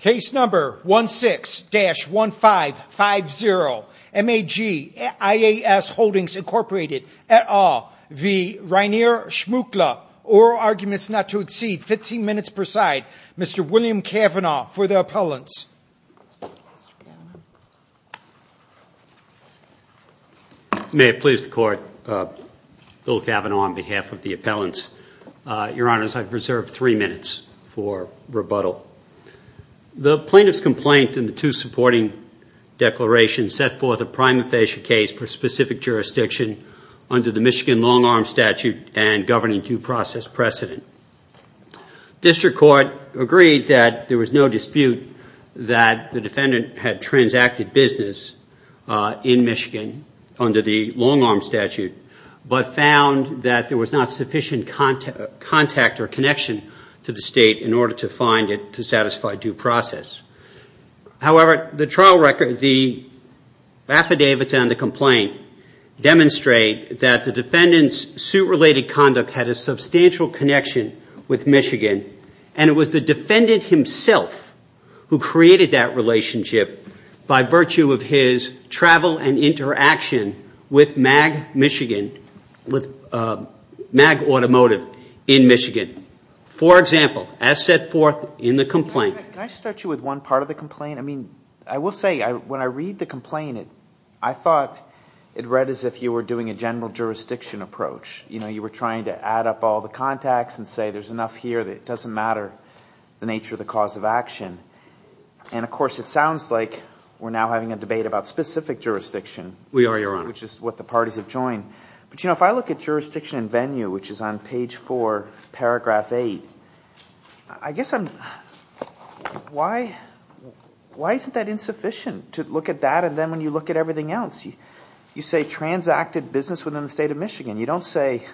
Case number 16-1550 MAG IAS Holdings Inc v. Rainer Schmuckle Oral arguments not to exceed 15 minutes per side Mr. William Kavanaugh for the appellants May it please the court, Bill Kavanaugh on behalf of the appellants Your Honor, I have reserved three minutes for rebuttal The plaintiff's complaint and the two supporting declarations set forth a prima facie case for specific jurisdiction under the Michigan Long-Arm Statute and governing due process precedent District Court agreed that there was no dispute that the defendant had transacted business in Michigan under the Long-Arm Statute but found that there was not sufficient contact or connection to the state in order to find it to satisfy due process However, the trial record, the affidavits and the complaint demonstrate that the defendant's suit-related conduct had a substantial connection with Michigan and it was the defendant himself who created that relationship by virtue of his travel and interaction with MAG Automotive in Michigan For example, as set forth in the complaint Can I start you with one part of the complaint? I will say, when I read the complaint I thought it read as if you were doing a general jurisdiction approach You know, you were trying to add up all the contacts and say there's enough here that it doesn't matter the nature of the cause of action And of course it sounds like we're now having a debate about specific jurisdiction We are, Your Honor Which is what the parties have joined But you know, if I look at jurisdiction and venue which is on page 4, paragraph 8 I guess I'm... Why isn't that insufficient to look at that and then when you look at everything else You say transacted business within the state of Michigan You don't say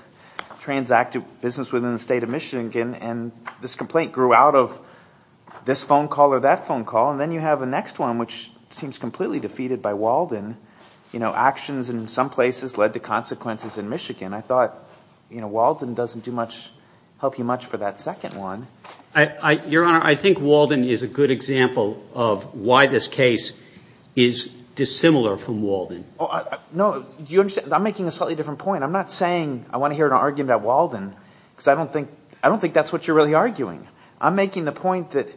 transacted business within the state of Michigan And this complaint grew out of this phone call or that phone call And then you have the next one which seems completely defeated by Walden You know, actions in some places led to consequences in Michigan I thought, you know, Walden doesn't do much help you much for that second one Your Honor, I think Walden is a good example of why this case is dissimilar from Walden No, do you understand? I'm making a slightly different point I'm not saying I want to hear an argument about Walden Because I don't think that's what you're really arguing I'm making the point that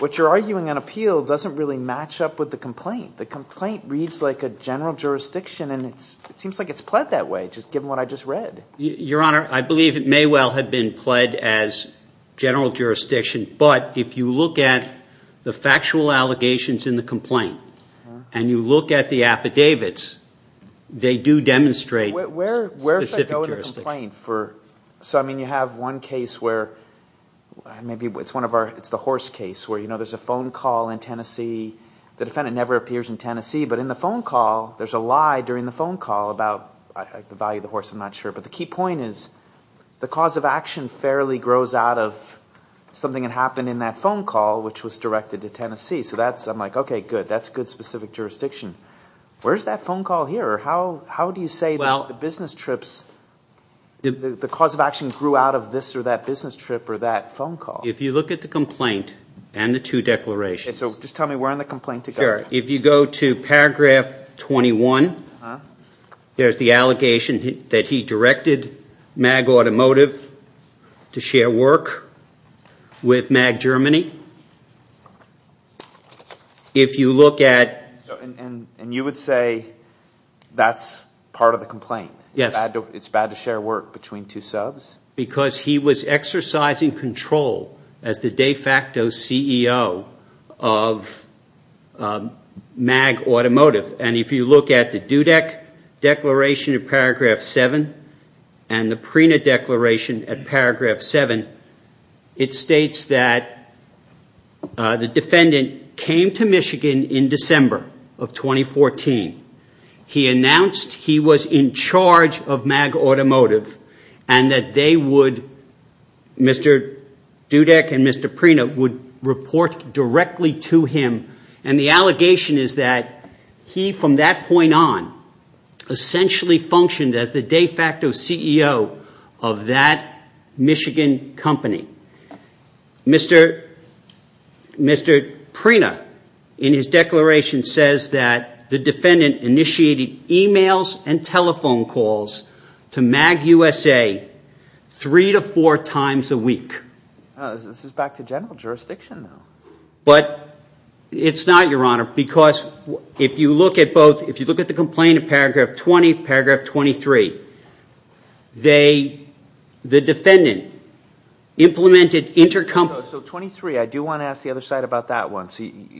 what you're arguing on appeal doesn't really match up with the complaint The complaint reads like a general jurisdiction and it seems like it's pled that way just given what I just read Your Honor, I believe it may well have been pled as general jurisdiction but if you look at the factual allegations in the complaint and you look at the affidavits they do demonstrate specific jurisdiction So you have one case where maybe it's the horse case where there's a phone call in Tennessee the defendant never appears in Tennessee but in the phone call there's a lie during the phone call about the value of the horse, I'm not sure but the key point is the cause of action fairly grows out of something that happened in that phone call which was directed to Tennessee so I'm like, okay, good that's good specific jurisdiction Where's that phone call here? How do you say that the business trips the cause of action grew out of this or that business trip or that phone call? If you look at the complaint and the two declarations So just tell me where in the complaint to go If you go to paragraph 21 there's the allegation that he directed MAG Automotive to share work with MAG Germany If you look at And you would say that's part of the complaint Yes It's bad to share work between two subs? Because he was exercising control as the de facto CEO of MAG Automotive and if you look at the DUDEC declaration in paragraph 7 and the PRENA declaration at paragraph 7 it states that the defendant came to Michigan in December of 2014 He announced he was in charge of MAG Automotive and that they would Mr. DUDEC and Mr. PRENA would report directly to him and the allegation is that he from that point on essentially functioned as the de facto CEO of that Michigan company Mr. PRENA in his declaration says that the defendant initiated emails and telephone calls to MAG USA three to four times a week This is back to general jurisdiction But it's not your honor because if you look at both if you look at the complaint in paragraph 20 paragraph 23 they the defendant implemented intercompany So 23, I do want to ask the other side about that one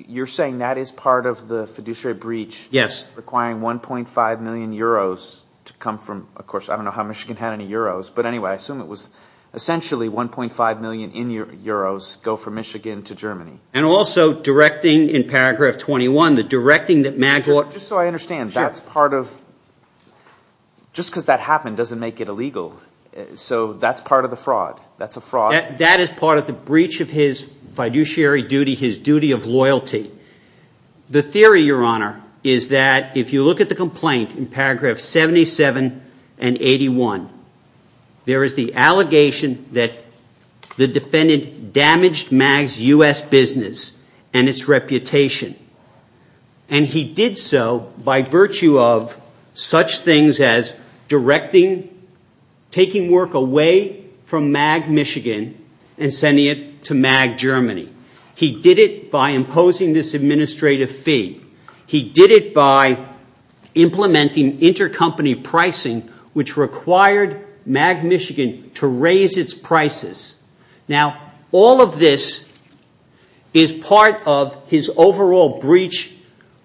You're saying that is part of the fiduciary breach Yes requiring 1.5 million euros to come from of course I don't know how Michigan had any euros but anyway I assume it was essentially 1.5 million in euros go from Michigan to Germany And also directing in paragraph 21 the directing that MAG Just so I understand that's part of just because that happened doesn't make it illegal So that's part of the fraud That's a fraud That is part of the breach of his fiduciary duty his duty of loyalty The theory your honor is that if you look at the complaint in paragraph 77 and 81 there is the allegation that the defendant damaged MAG's US business and its reputation and he did so by virtue of such things as directing taking work away from MAG Michigan and sending it to MAG Germany He did it by imposing this administrative fee He did it by implementing intercompany pricing which required MAG Michigan to raise its prices Now all of this is part of his overall breach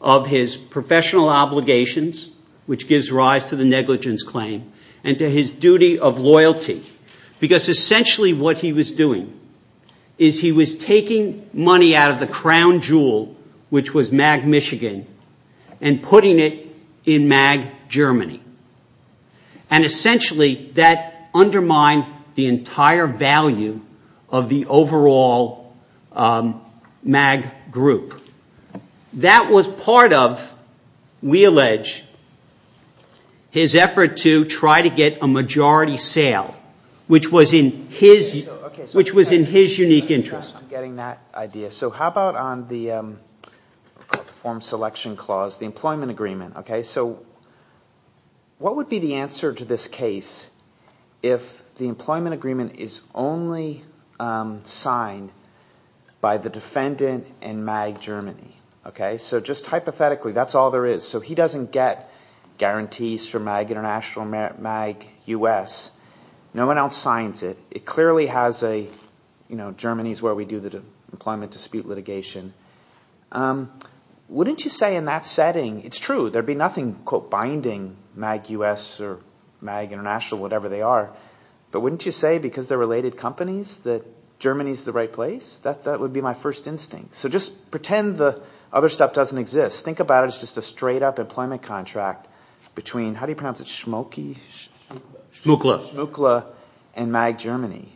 of his professional obligations which gives rise to the negligence claim and to his duty of loyalty because essentially what he was doing is he was taking money out of the crown jewel which was MAG Michigan and putting it in MAG Germany and essentially that undermined the entire value of the overall MAG group That was part of we allege his effort to try to get a majority sale which was in his which was in his unique interest I'm getting that idea so how about on the form selection clause the employment agreement so what would be the answer to this case if the employment agreement is only signed by the defendant in MAG Germany so just hypothetically that's all there is so he doesn't get guarantees from MAG International MAG US no one else signs it it clearly has a Germany is where we do the employment dispute litigation wouldn't you say in that setting it's true there'd be nothing quote binding MAG US or MAG International whatever they are but wouldn't you say because they're related companies that Germany is the right place that would be my first instinct so just pretend the other stuff doesn't exist think about it as just a straight up employment contract between how do you pronounce it Schmokey Schmukler Schmukler and MAG Germany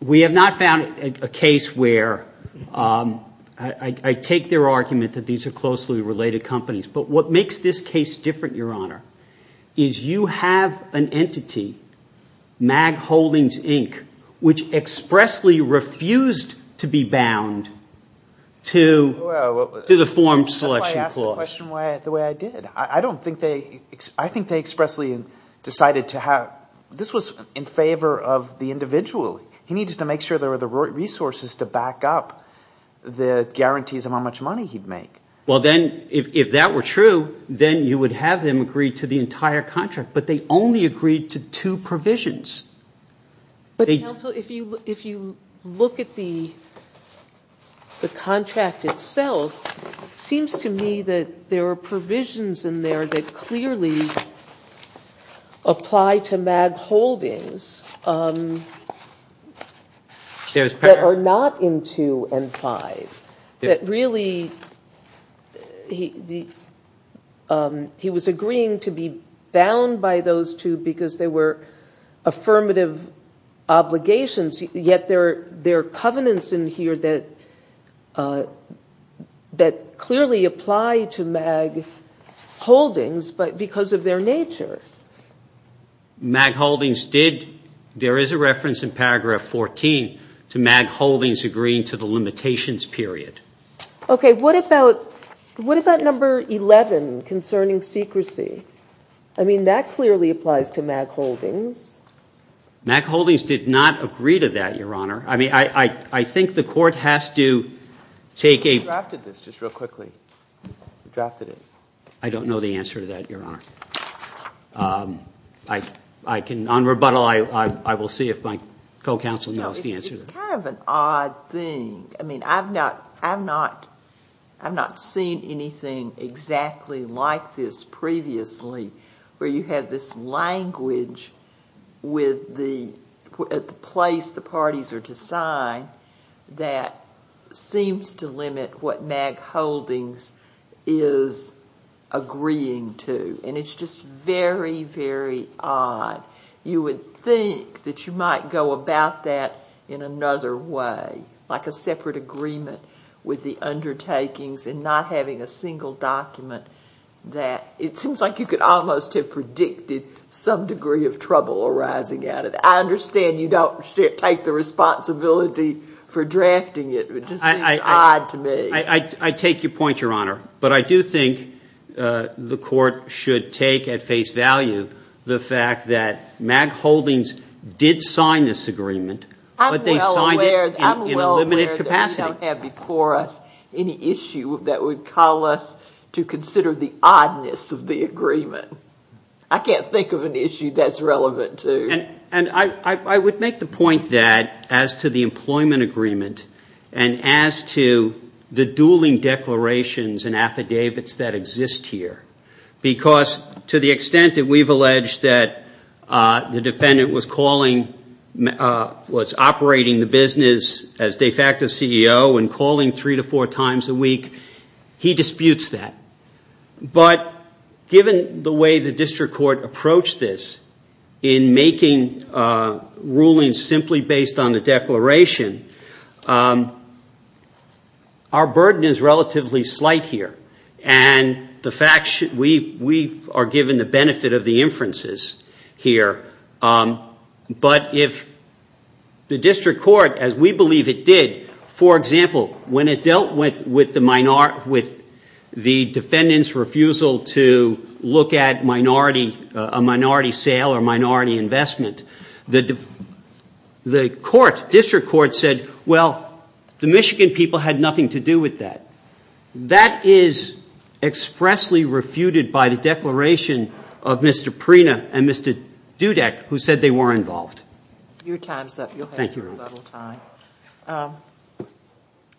we have not found a case where I take their argument that these are closely related companies but what makes this case different your honor is you have an entity MAG Holdings Inc which expressly refused to be bound to the form selection clause that's why I asked the question the way I did I don't think they I think they expressly decided to have this was in favor of the individual he needed to make sure there were the right resources to back up the guarantees of how much money he'd make well then if that were true then you would have them agree to the entire contract but they only agreed to two provisions but counsel if you look at the the contract itself it seems to me that there are provisions in there that clearly apply to MAG Holdings that are not in 2 and 5 that really he was agreeing to be bound by those two because they were affirmative obligations yet there are covenants in here that that clearly apply to MAG Holdings but because of their nature MAG Holdings did there is a reference in paragraph 14 to MAG Holdings agreeing to the limitations period okay what about what about number 11 concerning secrecy I mean that clearly applies to MAG Holdings MAG Holdings did not agree to that your honor I mean I think the court has to take a we drafted this just real quickly we drafted it I don't know the answer to that your honor on rebuttal I will see if my co-counsel knows the answer it's kind of an odd thing I mean I've not I've not I've not seen anything exactly like this previously where you had this language with the at the place the parties are to sign that seems to limit what MAG Holdings is agreeing to and it's just very very odd you would think that you might go about that in another way like a separate agreement with the undertakings and not having a single document that it seems like you could almost have predicted some degree of trouble arising out of it I understand you don't take the responsibility for drafting it it just seems odd to me I take your point your honor but I do think the court should take at face value the fact that MAG Holdings did sign this agreement but they signed it in a limited capacity I'm well aware that we don't have before us any issue that would call us to consider the oddness of the agreement I can't think of an issue that's relevant to and I would make the point that as to the employment agreement and as to the dueling declarations and affidavits that exist here because to the extent that we've alleged that the defendant was calling was operating the business as de facto CEO and calling three to four times a week he disputes that but given the way the district court approached this in making rulings simply based on the declaration our burden is relatively slight here and we are given the benefit of the inferences here but if the district court as we believe it did for example when it dealt with the defendant's refusal to look at a minority sale or minority investment the district court said well the Michigan people had nothing to do with that that is expressly refuted by the declaration of Mr. Prina and Mr. Dudek who said they were involved your time is up thank you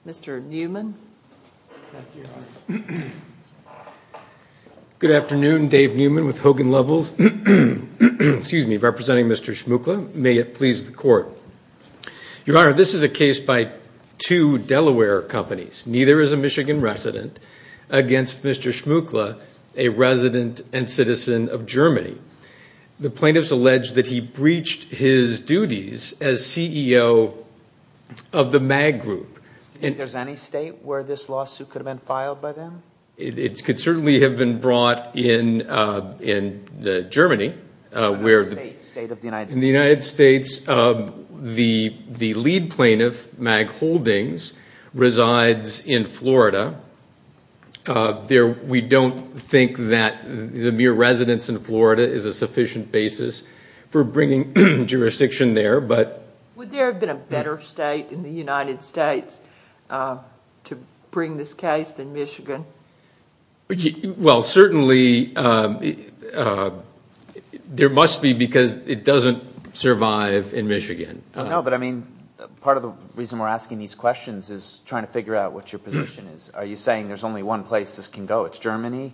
Mr. Newman thank you good afternoon Dave Newman with Hogan Levels excuse me representing Mr. Shmukla may it please the court your honor this is a case by two Delaware companies neither is a Michigan resident against Mr. Shmukla a resident and citizen of Germany the plaintiffs allege that he breached his duties as CEO of the MAG group is there any state where this lawsuit could have been filed by them it could certainly have been brought in in Germany in the United States the lead plaintiff MAG Holdings resides in Florida we don't think that the mere residence in Florida is a sufficient basis for bringing jurisdiction there but would there have been a better state in the United States to bring this case than Michigan well certainly there must be because it doesn't survive in Michigan no but I mean part of the reason we're asking these questions is trying to figure out what your position is are you saying there's only one place this can go it's Germany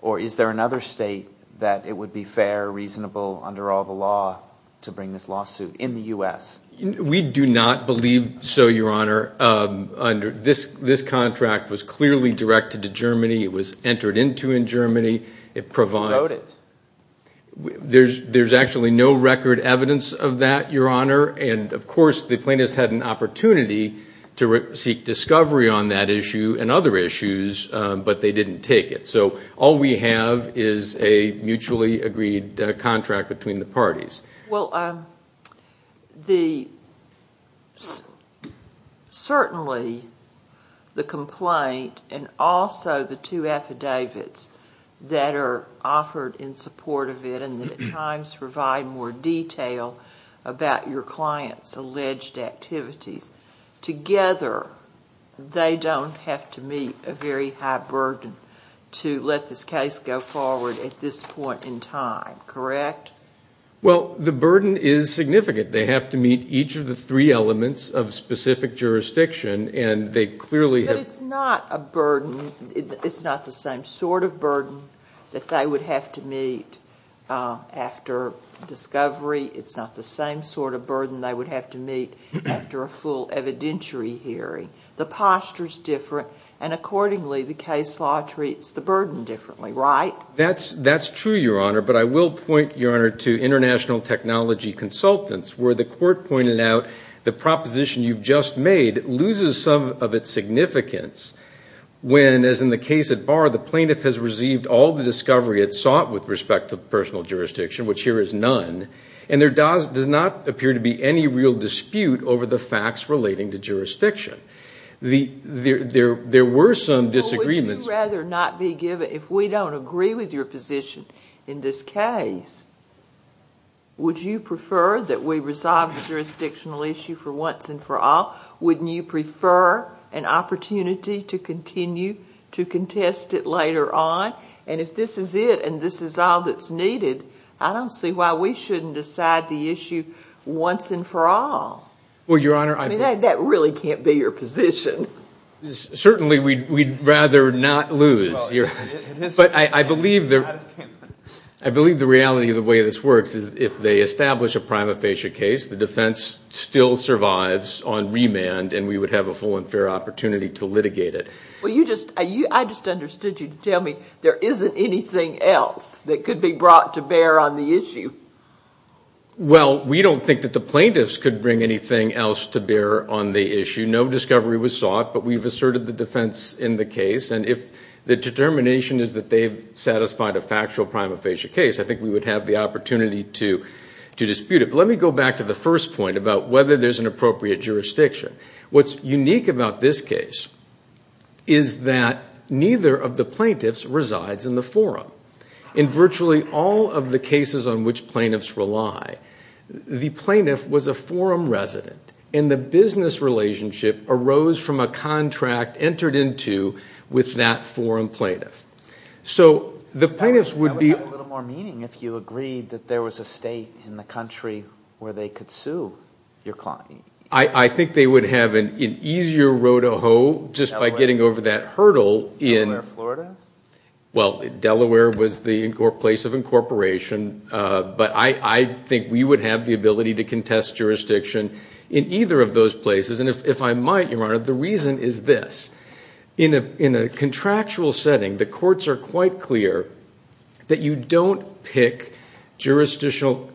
or is there another state that it would be fair, reasonable under all the law to bring this lawsuit in the U.S. we do not believe so your honor this contract was clearly directed to Germany it was entered into in Germany it provided there's actually no record evidence of that your honor and of course the plaintiffs had an opportunity to seek discovery on that issue and other issues but they didn't take it so all we have is a mutually agreed contract between the parties certainly the complaint and also the two affidavits that are offered in support of it and at times provide more detail about your client's alleged activities together they don't have to meet a very high burden to let this case go forward at this point in time correct well the burden is significant they have to meet each of the three elements of specific jurisdiction and they clearly have but it's not a burden it's not the same sort of burden that they would have to meet after discovery it's not the same sort of burden they would have to meet after a full evidentiary hearing the posture's different and accordingly the case law treats the burden differently that's true your honor but I will point your honor to international technology consultants where the court pointed out the proposition you've just made loses some of its significance when as in the case at bar the plaintiff has received all the discovery it sought with respect to personal jurisdiction which here is none and there does not appear to be any real dispute over the facts relating to jurisdiction there were some disagreements would you rather not be given if we don't agree with your position in this case would you prefer that we resolve the jurisdictional issue for once and for all wouldn't you prefer an opportunity to continue to contest it later on and if this is it and this is all that's needed I don't see why we shouldn't decide the issue once and for all well your honor that really can't be your position certainly we'd rather not lose but I believe I believe the reality of the way this works is if they establish a prima facie case the defense still survives on remand and we would have a full and fair opportunity to litigate it well you just I just understood you to tell me there isn't anything else that could be brought to bear on the issue well we don't think that the plaintiffs could bring anything else to bear on the issue no discovery was sought but we've asserted the defense in the case and if the determination is that they've satisfied a factual prima facie case I think we would have the opportunity to to dispute it but let me go back to the first point about whether there's an appropriate jurisdiction what's unique about this case is that neither of the plaintiffs resides in the forum in virtually all of the cases on which plaintiffs rely the plaintiff was a forum resident and the business relationship arose from a contract entered into with that forum plaintiff so the plaintiffs would be that would have a little more meaning if you agreed that there was a state in the country where they could sue your client I think they would have an easier road to hoe just by getting over that hurdle in Delaware, Florida? well Delaware was the place of incorporation but I think we would have the ability to contest jurisdiction in either of those places and if I might, your honor the reason is this in a contractual setting the courts are quite clear that you don't pick jurisdictional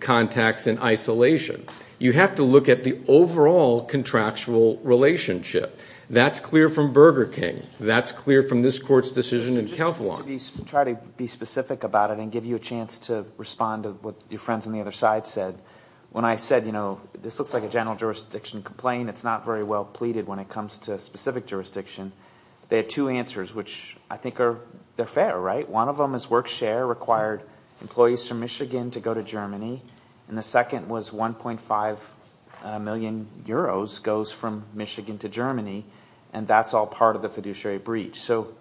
contacts in isolation you have to look at the overall contractual relationship that's clear from Burger King that's clear from this court's decision in Keflavon I'll try to be specific about it and give you a chance to respond to what your friends on the other side said when I said this looks like a general jurisdiction complaint it's not very well pleaded when it comes to a specific jurisdiction they had two answers which I think they're fair, right? one of them is work share required employees from Michigan to go to Germany and the second was 1.5 million euros goes from Michigan to Germany and that's all part of the fiduciary breach so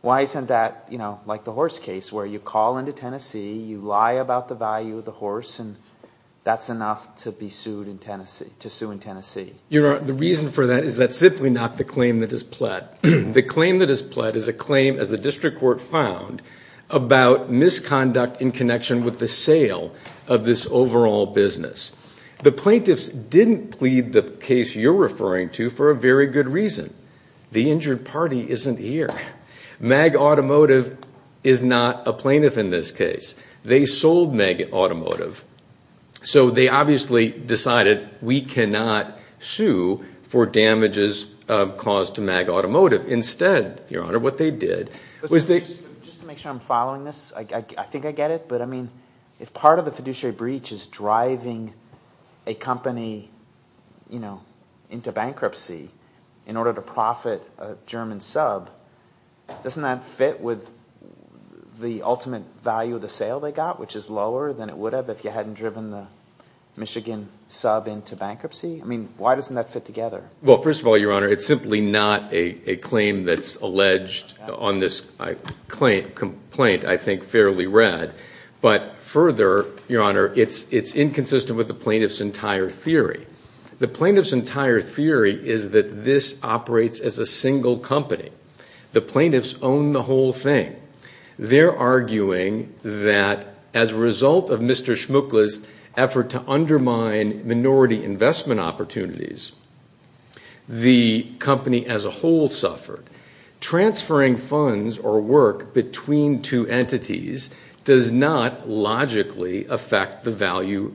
why isn't that like the horse case where you call into Tennessee you lie about the value of the horse and that's enough to be sued in Tennessee to sue in Tennessee Your Honor, the reason for that is that's simply not the claim that is pled the claim that is pled is a claim as the district court found about misconduct in connection with the sale of this overall business the plaintiffs didn't plead the case you're referring to for a very good reason the injured party isn't here MAG Automotive is not a plaintiff in this case they sold MAG Automotive so they obviously decided we cannot sue for damages caused to MAG Automotive instead, Your Honor, what they did was they just to make sure I'm following this I think I get it but I mean if part of the fiduciary breach is driving a company you know into bankruptcy in order to profit a German sub doesn't that fit with the ultimate value of the sale they got which is lower than it would have if you hadn't driven the Michigan sub into bankruptcy I mean, why doesn't that fit together? Well, first of all, Your Honor it's simply not a claim that's alleged on this complaint I think fairly read but further, Your Honor it's inconsistent with the plaintiff's entire theory the plaintiff's entire theory is that this operates as a single company the plaintiffs own the whole thing they're arguing that as a result of Mr. Schmuckle's effort to undermine minority investment opportunities the company as a whole suffered transferring funds or work between two entities does not logically affect the value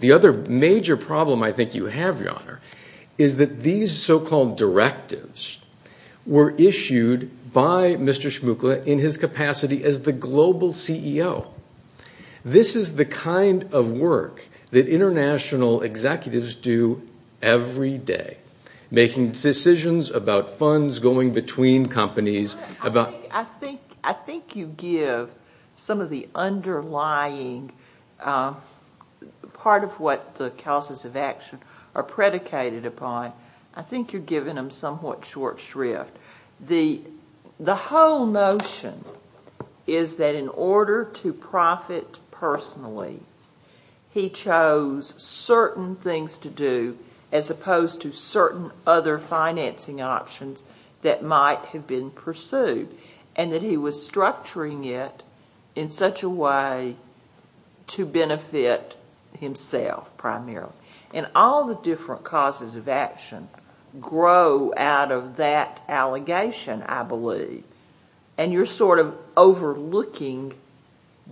the other major problem I think you have, Your Honor is that these so-called directives were issued by Mr. Schmuckle in his capacity as the global CEO this is the kind of work that international executives do every day making decisions about funds going between companies I think you give some of the underlying part of what the causes of action are predicated upon I think you're giving them somewhat short shrift the whole notion is that in order to profit personally he chose certain things to do as opposed to certain other financing options that might have been pursued and that he was structuring it in such a way to benefit himself primarily and all the different causes of action grow out of that allegation I believe and you're sort of overlooking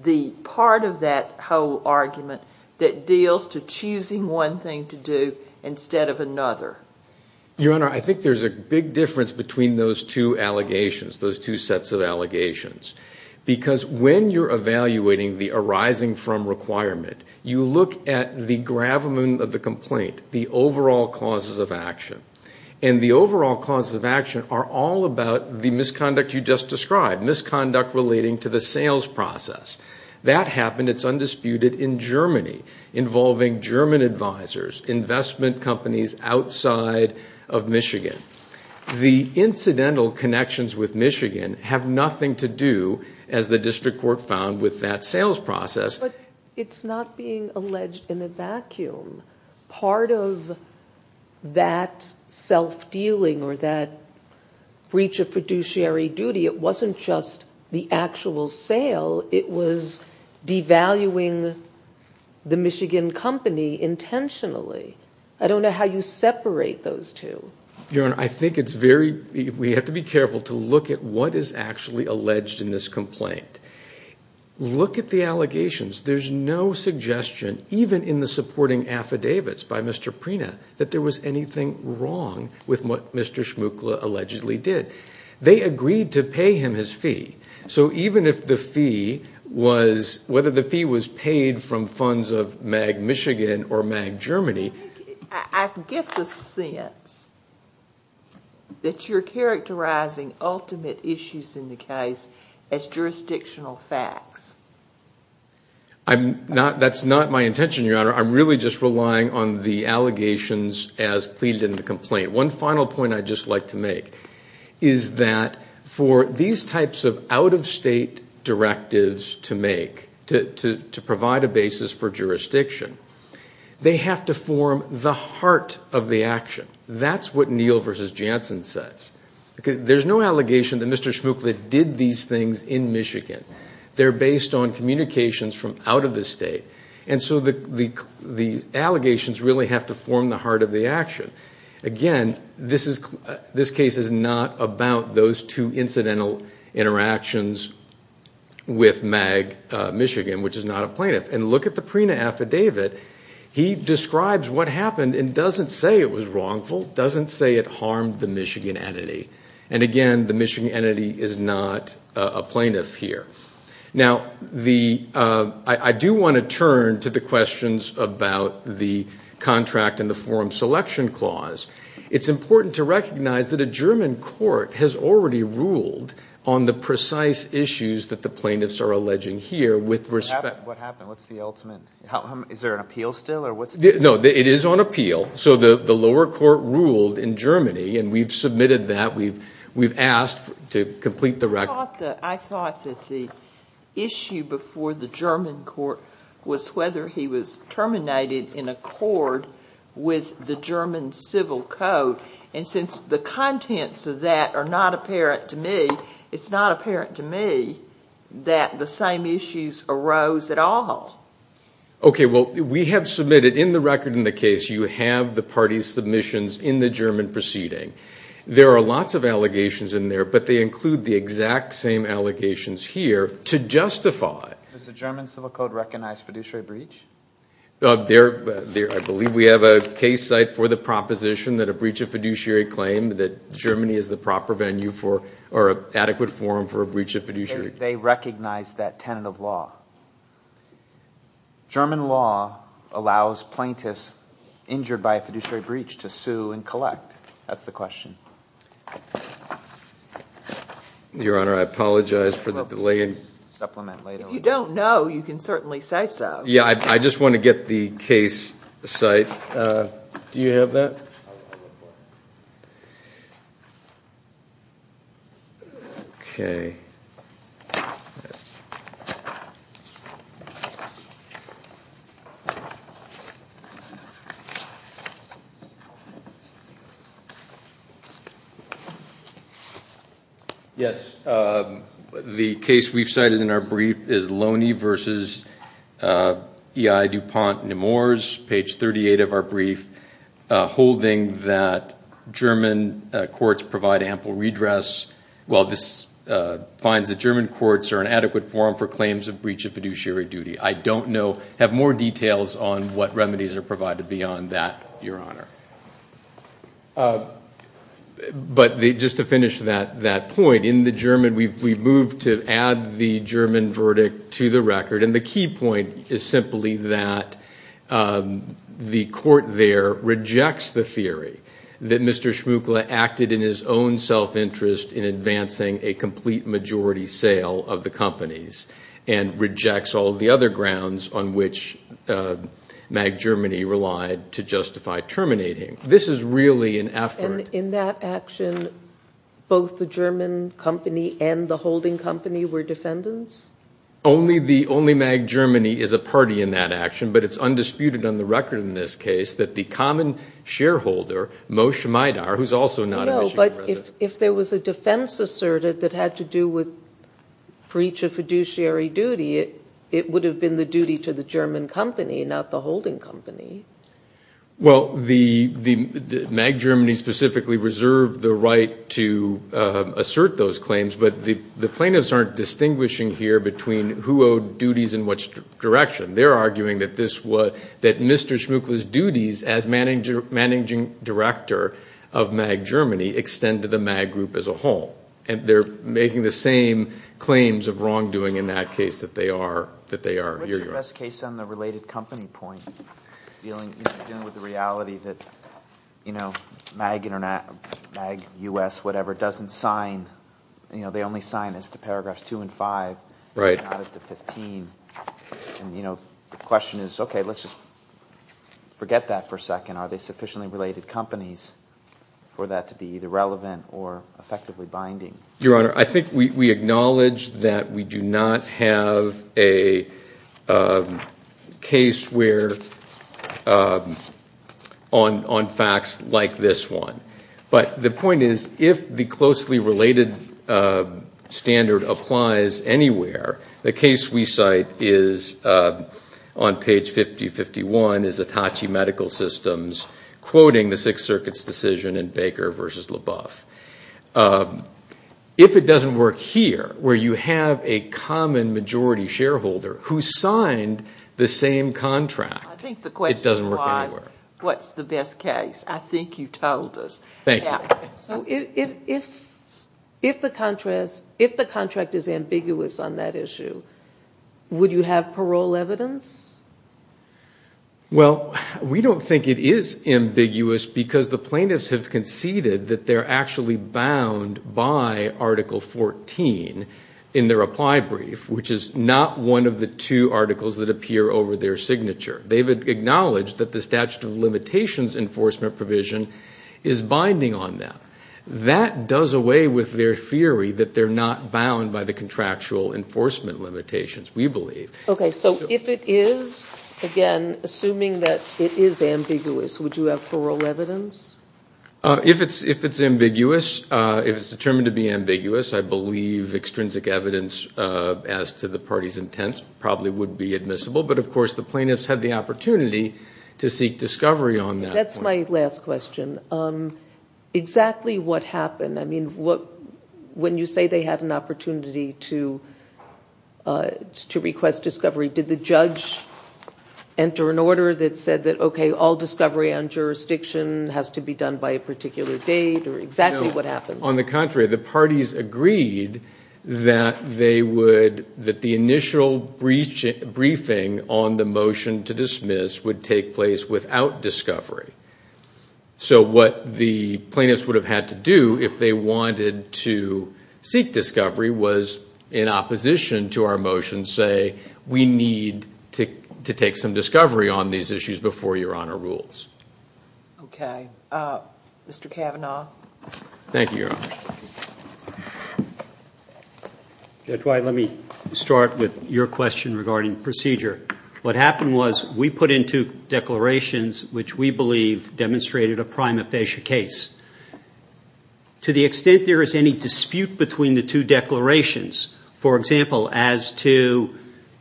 the part of that whole argument that deals to choosing one thing to do instead of another Your Honor, I think there's a big difference between those two allegations those two sets of allegations because when you're evaluating the arising from requirement you look at the gravamen of the complaint the overall causes of action and the overall causes of action are all about the misconduct you just described misconduct relating to the sales process that happened, it's undisputed, in Germany involving German advisors investment companies outside of Michigan the incidental connections with Michigan have nothing to do as the district court found with that sales process But it's not being alleged in a vacuum part of that self-dealing or that breach of fiduciary duty it wasn't just the actual sale it was devaluing the Michigan company intentionally I don't know how you separate those two Your Honor, I think it's very we have to be careful to look at what is actually alleged in this complaint look at the allegations there's no suggestion even in the supporting affidavits by Mr. Prina that there was anything wrong with what Mr. Shmukla allegedly did they agreed to pay him his fee so even if the fee was whether the fee was paid from funds of MAG Michigan or MAG Germany I get the sense that you're characterizing ultimate issues in the case as jurisdictional facts That's not my intention, Your Honor I'm really just relying on the allegations as pleaded in the complaint One final point I'd just like to make is that for these types of out-of-state directives to make to provide a basis for jurisdiction they have to form the heart of the action That's what Neal v. Janssen says There's no allegation that Mr. Shmukla did these things in Michigan They're based on communications from out of the state and so the allegations really have to form the heart of the action Again, this case is not about those two incidental interactions with MAG Michigan which is not a plaintiff and look at the Prina affidavit he describes what happened and doesn't say it was wrongful doesn't say it harmed the Michigan entity and again, the Michigan entity is not a plaintiff here Now, I do want to turn to the questions about the contract and the forum selection clause It's important to recognize that a German court has already ruled on the precise issues that the plaintiffs are alleging here What happened? What's the ultimate? Is there an appeal still? No, it is on appeal So the lower court ruled in Germany and we've submitted that we've asked to complete the record I thought that the issue before the German court was whether he was terminated in accord with the German civil code and since the contents of that are not apparent to me it's not apparent to me that the same issues arose at all Okay, well, we have submitted in the record in the case you have the parties submissions in the German proceeding There are lots of allegations in there but they include the exact same allegations here to justify Does the German civil code recognize fiduciary breach? I believe we have a case site for the proposition that a breach of fiduciary claim that Germany is the proper venue for or adequate forum for a breach of fiduciary They recognize that tenant of law German law allows plaintiffs injured by a fiduciary breach to sue and collect That's the question Your Honor, I apologize for the delay If you don't know, you can certainly say so Yeah, I just want to get the case site Do you have that? Okay Yes The case we've cited in our brief is Loney v. E.I. DuPont Nemours page 38 of our brief holding that German courts provide ample redress Well, this finds the German courts are an adequate forum for claims of breach of fiduciary duty I don't know have more details on what remedies are provided beyond that I don't know But just to finish that point in the German we've moved to add the German verdict to the record and the key point is simply that the court there rejects the theory that Mr. Schmuckle acted in his own self-interest in advancing a complete majority sale of the companies and rejects all the other grounds on which MAG Germany relied to justify terminating This is really an effort And in that action both the German company and the holding company were defendants? Only MAG Germany is a party in that action but it's undisputed on the record in this case that the common shareholder Moshe Maidar who's also not a Michigan resident No, but if there was a defense asserted that had to do with breach of fiduciary duty it would have been the duty to the German company not the holding company Well, MAG Germany specifically reserved the right to assert those claims but the plaintiffs aren't distinguishing here between who owed duties in which direction They're arguing that this was that Mr. Schmuckle's duties as managing director of MAG Germany extend to the MAG group as a whole and they're making the same claims of wrongdoing in that case that they are here What's your best case on the related company point dealing with the reality that MAG US whatever doesn't sign they only sign as to paragraphs 2 and 5 Right not as to 15 and the question is okay, let's just forget that for a second are they sufficiently related companies for that to be either relevant or effectively binding? Your Honor, I think we acknowledge that we do not have a case where on facts like this one but the point is if the closely related standard applies anywhere the case we cite is on page 5051 is Hitachi Medical Systems quoting the Sixth Circuit's decision in Baker v. LaBeouf If it doesn't work here where you have a common majority shareholder who signed the same contract it doesn't work anywhere I think the question was what's the best case I think you told us Thank you If the contract is ambiguous on that issue would you have parole evidence? Well, we don't think it is ambiguous because the plaintiffs have conceded that they're actually bound by Article 14 in their apply brief which is not one of the two articles that appear over their signature They've acknowledged that the statute of limitations enforcement provision is binding on that That does away with their theory that they're not bound by the contractual enforcement limitations we believe Okay, so if it is again, assuming that it is ambiguous would you have parole evidence? If it's ambiguous if it's determined to be ambiguous I believe extrinsic evidence as to the party's intents probably would be admissible but of course the plaintiffs had the opportunity to seek discovery on that That's my last question Exactly what happened I mean, when you say they had an opportunity to request discovery did the judge enter an order that said that okay, all discovery on jurisdiction has to be done by a particular date or exactly what happened? No, on the contrary the parties agreed that they would that the initial briefing on the motion to dismiss would take place without discovery So what the plaintiffs would have had to do if they wanted to seek discovery was in opposition to our motion say we need to take some discovery on these issues before Your Honor rules Okay Mr. Kavanaugh Thank you, Your Honor Judge White, let me start with your question regarding procedure What happened was we put into declarations which we believe demonstrated a prima facie case To the extent there is any dispute between the two declarations for example, as to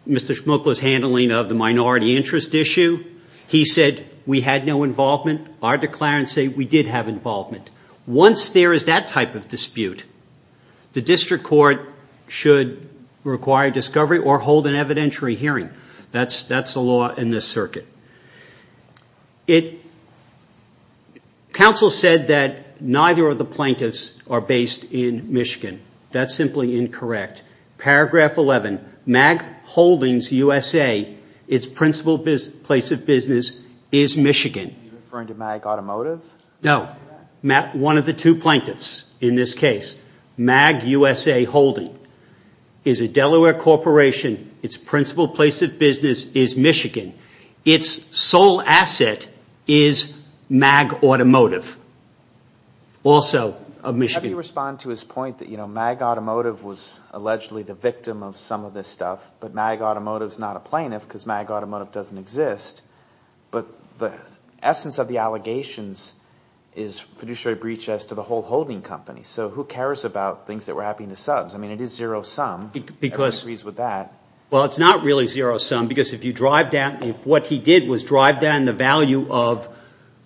Mr. Shmokla's handling of the minority interest issue he said we had no involvement our declarants say we did have involvement Once there is that type of dispute the district court should require discovery or hold an evidentiary hearing That's the law in this circuit Counsel said that neither of the plaintiffs are based in Michigan That's simply incorrect Paragraph 11 MAG Holdings, USA Its principal place of business is Michigan Are you referring to MAG Automotive? No One of the two plaintiffs in this case MAG USA Holding is a Delaware corporation Its principal place of business is Michigan Its sole asset is MAG Automotive also of Michigan Let me respond to his point MAG Automotive was allegedly the victim of some of this stuff but MAG Automotive is not a plaintiff because MAG Automotive doesn't exist but the essence of the allegations is fiduciary breach as to the whole holding company so who cares about things that were happening to subs I mean it is zero sum Everyone agrees with that Well, it's not really zero sum because if you drive down what he did was drive down the value of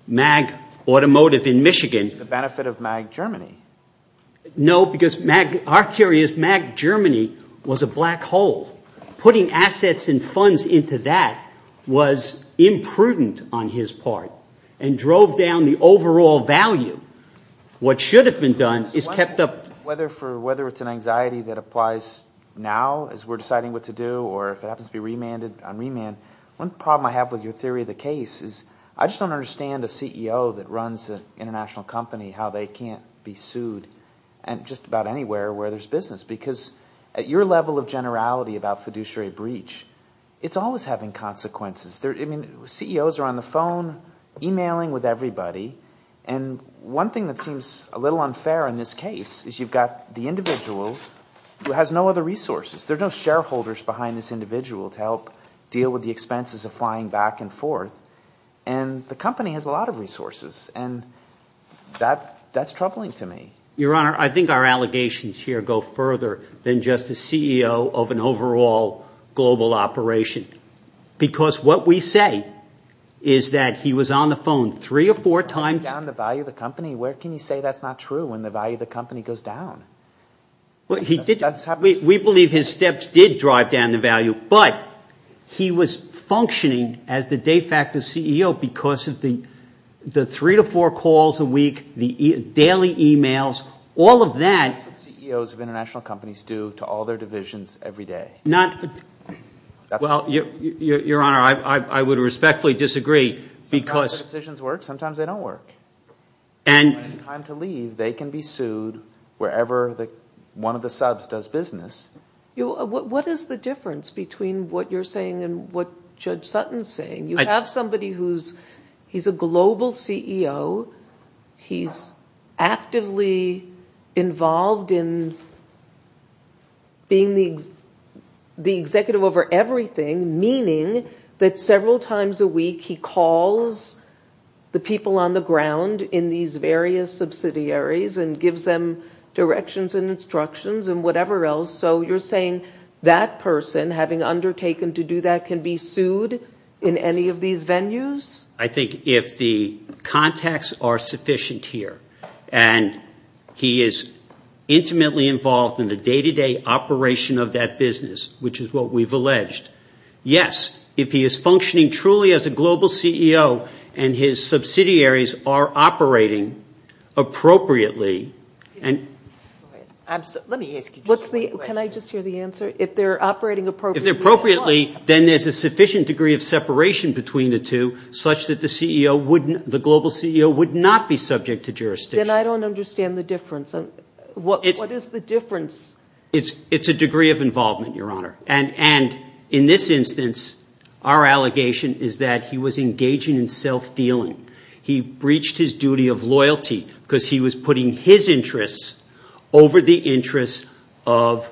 MAG Automotive in Michigan It's the benefit of MAG Germany No, because MAG Our theory is MAG Germany was a black hole Putting assets and funds into that was imprudent on his part and drove down the overall value What should have been done is kept up Whether it's an anxiety that applies now as we're deciding what to do or if it happens to be remanded on remand One problem I have with your theory of the case is I just don't understand a CEO that runs an international company how they can't be sued just about anywhere where there's business because at your level of generality about fiduciary breach it's always having consequences CEOs are on the phone emailing with everybody and one thing that seems a little unfair in this case is you've got the individual who has no other resources There are no shareholders behind this individual to help deal with the expenses of flying back and forth and the company has a lot of resources and that's troubling to me Your Honor, I think our allegations here go further than just a CEO of an overall global operation because what we say is that he was on the phone three or four times driving down the value of the company where can you say that's not true when the value of the company goes down? We believe his steps did drive down the value but he was functioning as the de facto CEO because of the three to four calls a week the daily emails all of that That's what CEOs of international companies do to all their divisions every day Your Honor, I would respectfully disagree Sometimes the decisions work sometimes they don't work When it's time to leave they can be sued wherever one of the subs does business What is the difference between what you're saying and what Judge Sutton's saying? You have somebody who's he's a global CEO he's actively involved in being the executive over everything meaning that several times a week he calls the people on the ground in these various subsidiaries and gives them directions and instructions and whatever else so you're saying that person having undertaken to do that can be sued in any of these venues? I think if the contacts are sufficient here and he is intimately involved in the day-to-day operation of that business which is what we've alleged Yes, if he is functioning truly as a global CEO and his subsidiaries are operating appropriately Can I just hear the answer? If they're operating appropriately then there's a sufficient degree of separation between the two such that the global CEO would not be subject to jurisdiction Then I don't understand the difference What is the difference? It's a degree of involvement, Your Honor and in this instance our allegation is that he was engaging in self-dealing He breached his duty of loyalty because he was putting his interests over the interests of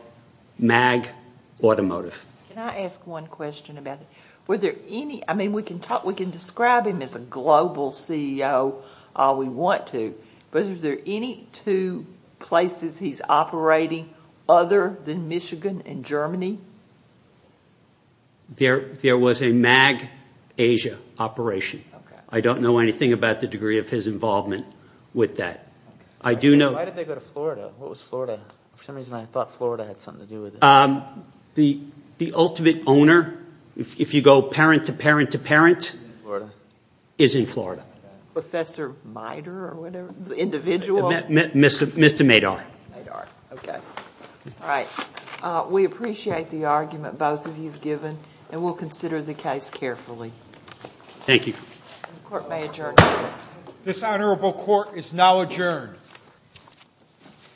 MAG Automotive Can I ask one question about it? We can describe him as a global CEO all we want to but is there any two places he's operating other than Michigan and Germany? There was a MAG Asia operation I don't know anything about the degree of his involvement with that Why did they go to Florida? What was Florida? For some reason I thought Florida had something to do with it The ultimate owner if you go parent to parent to parent is in Florida Professor Mitre or whatever? The individual? Mr. Madar All right We appreciate the argument both of you have given and we'll consider the case carefully Thank you The court may adjourn This honorable court is now adjourned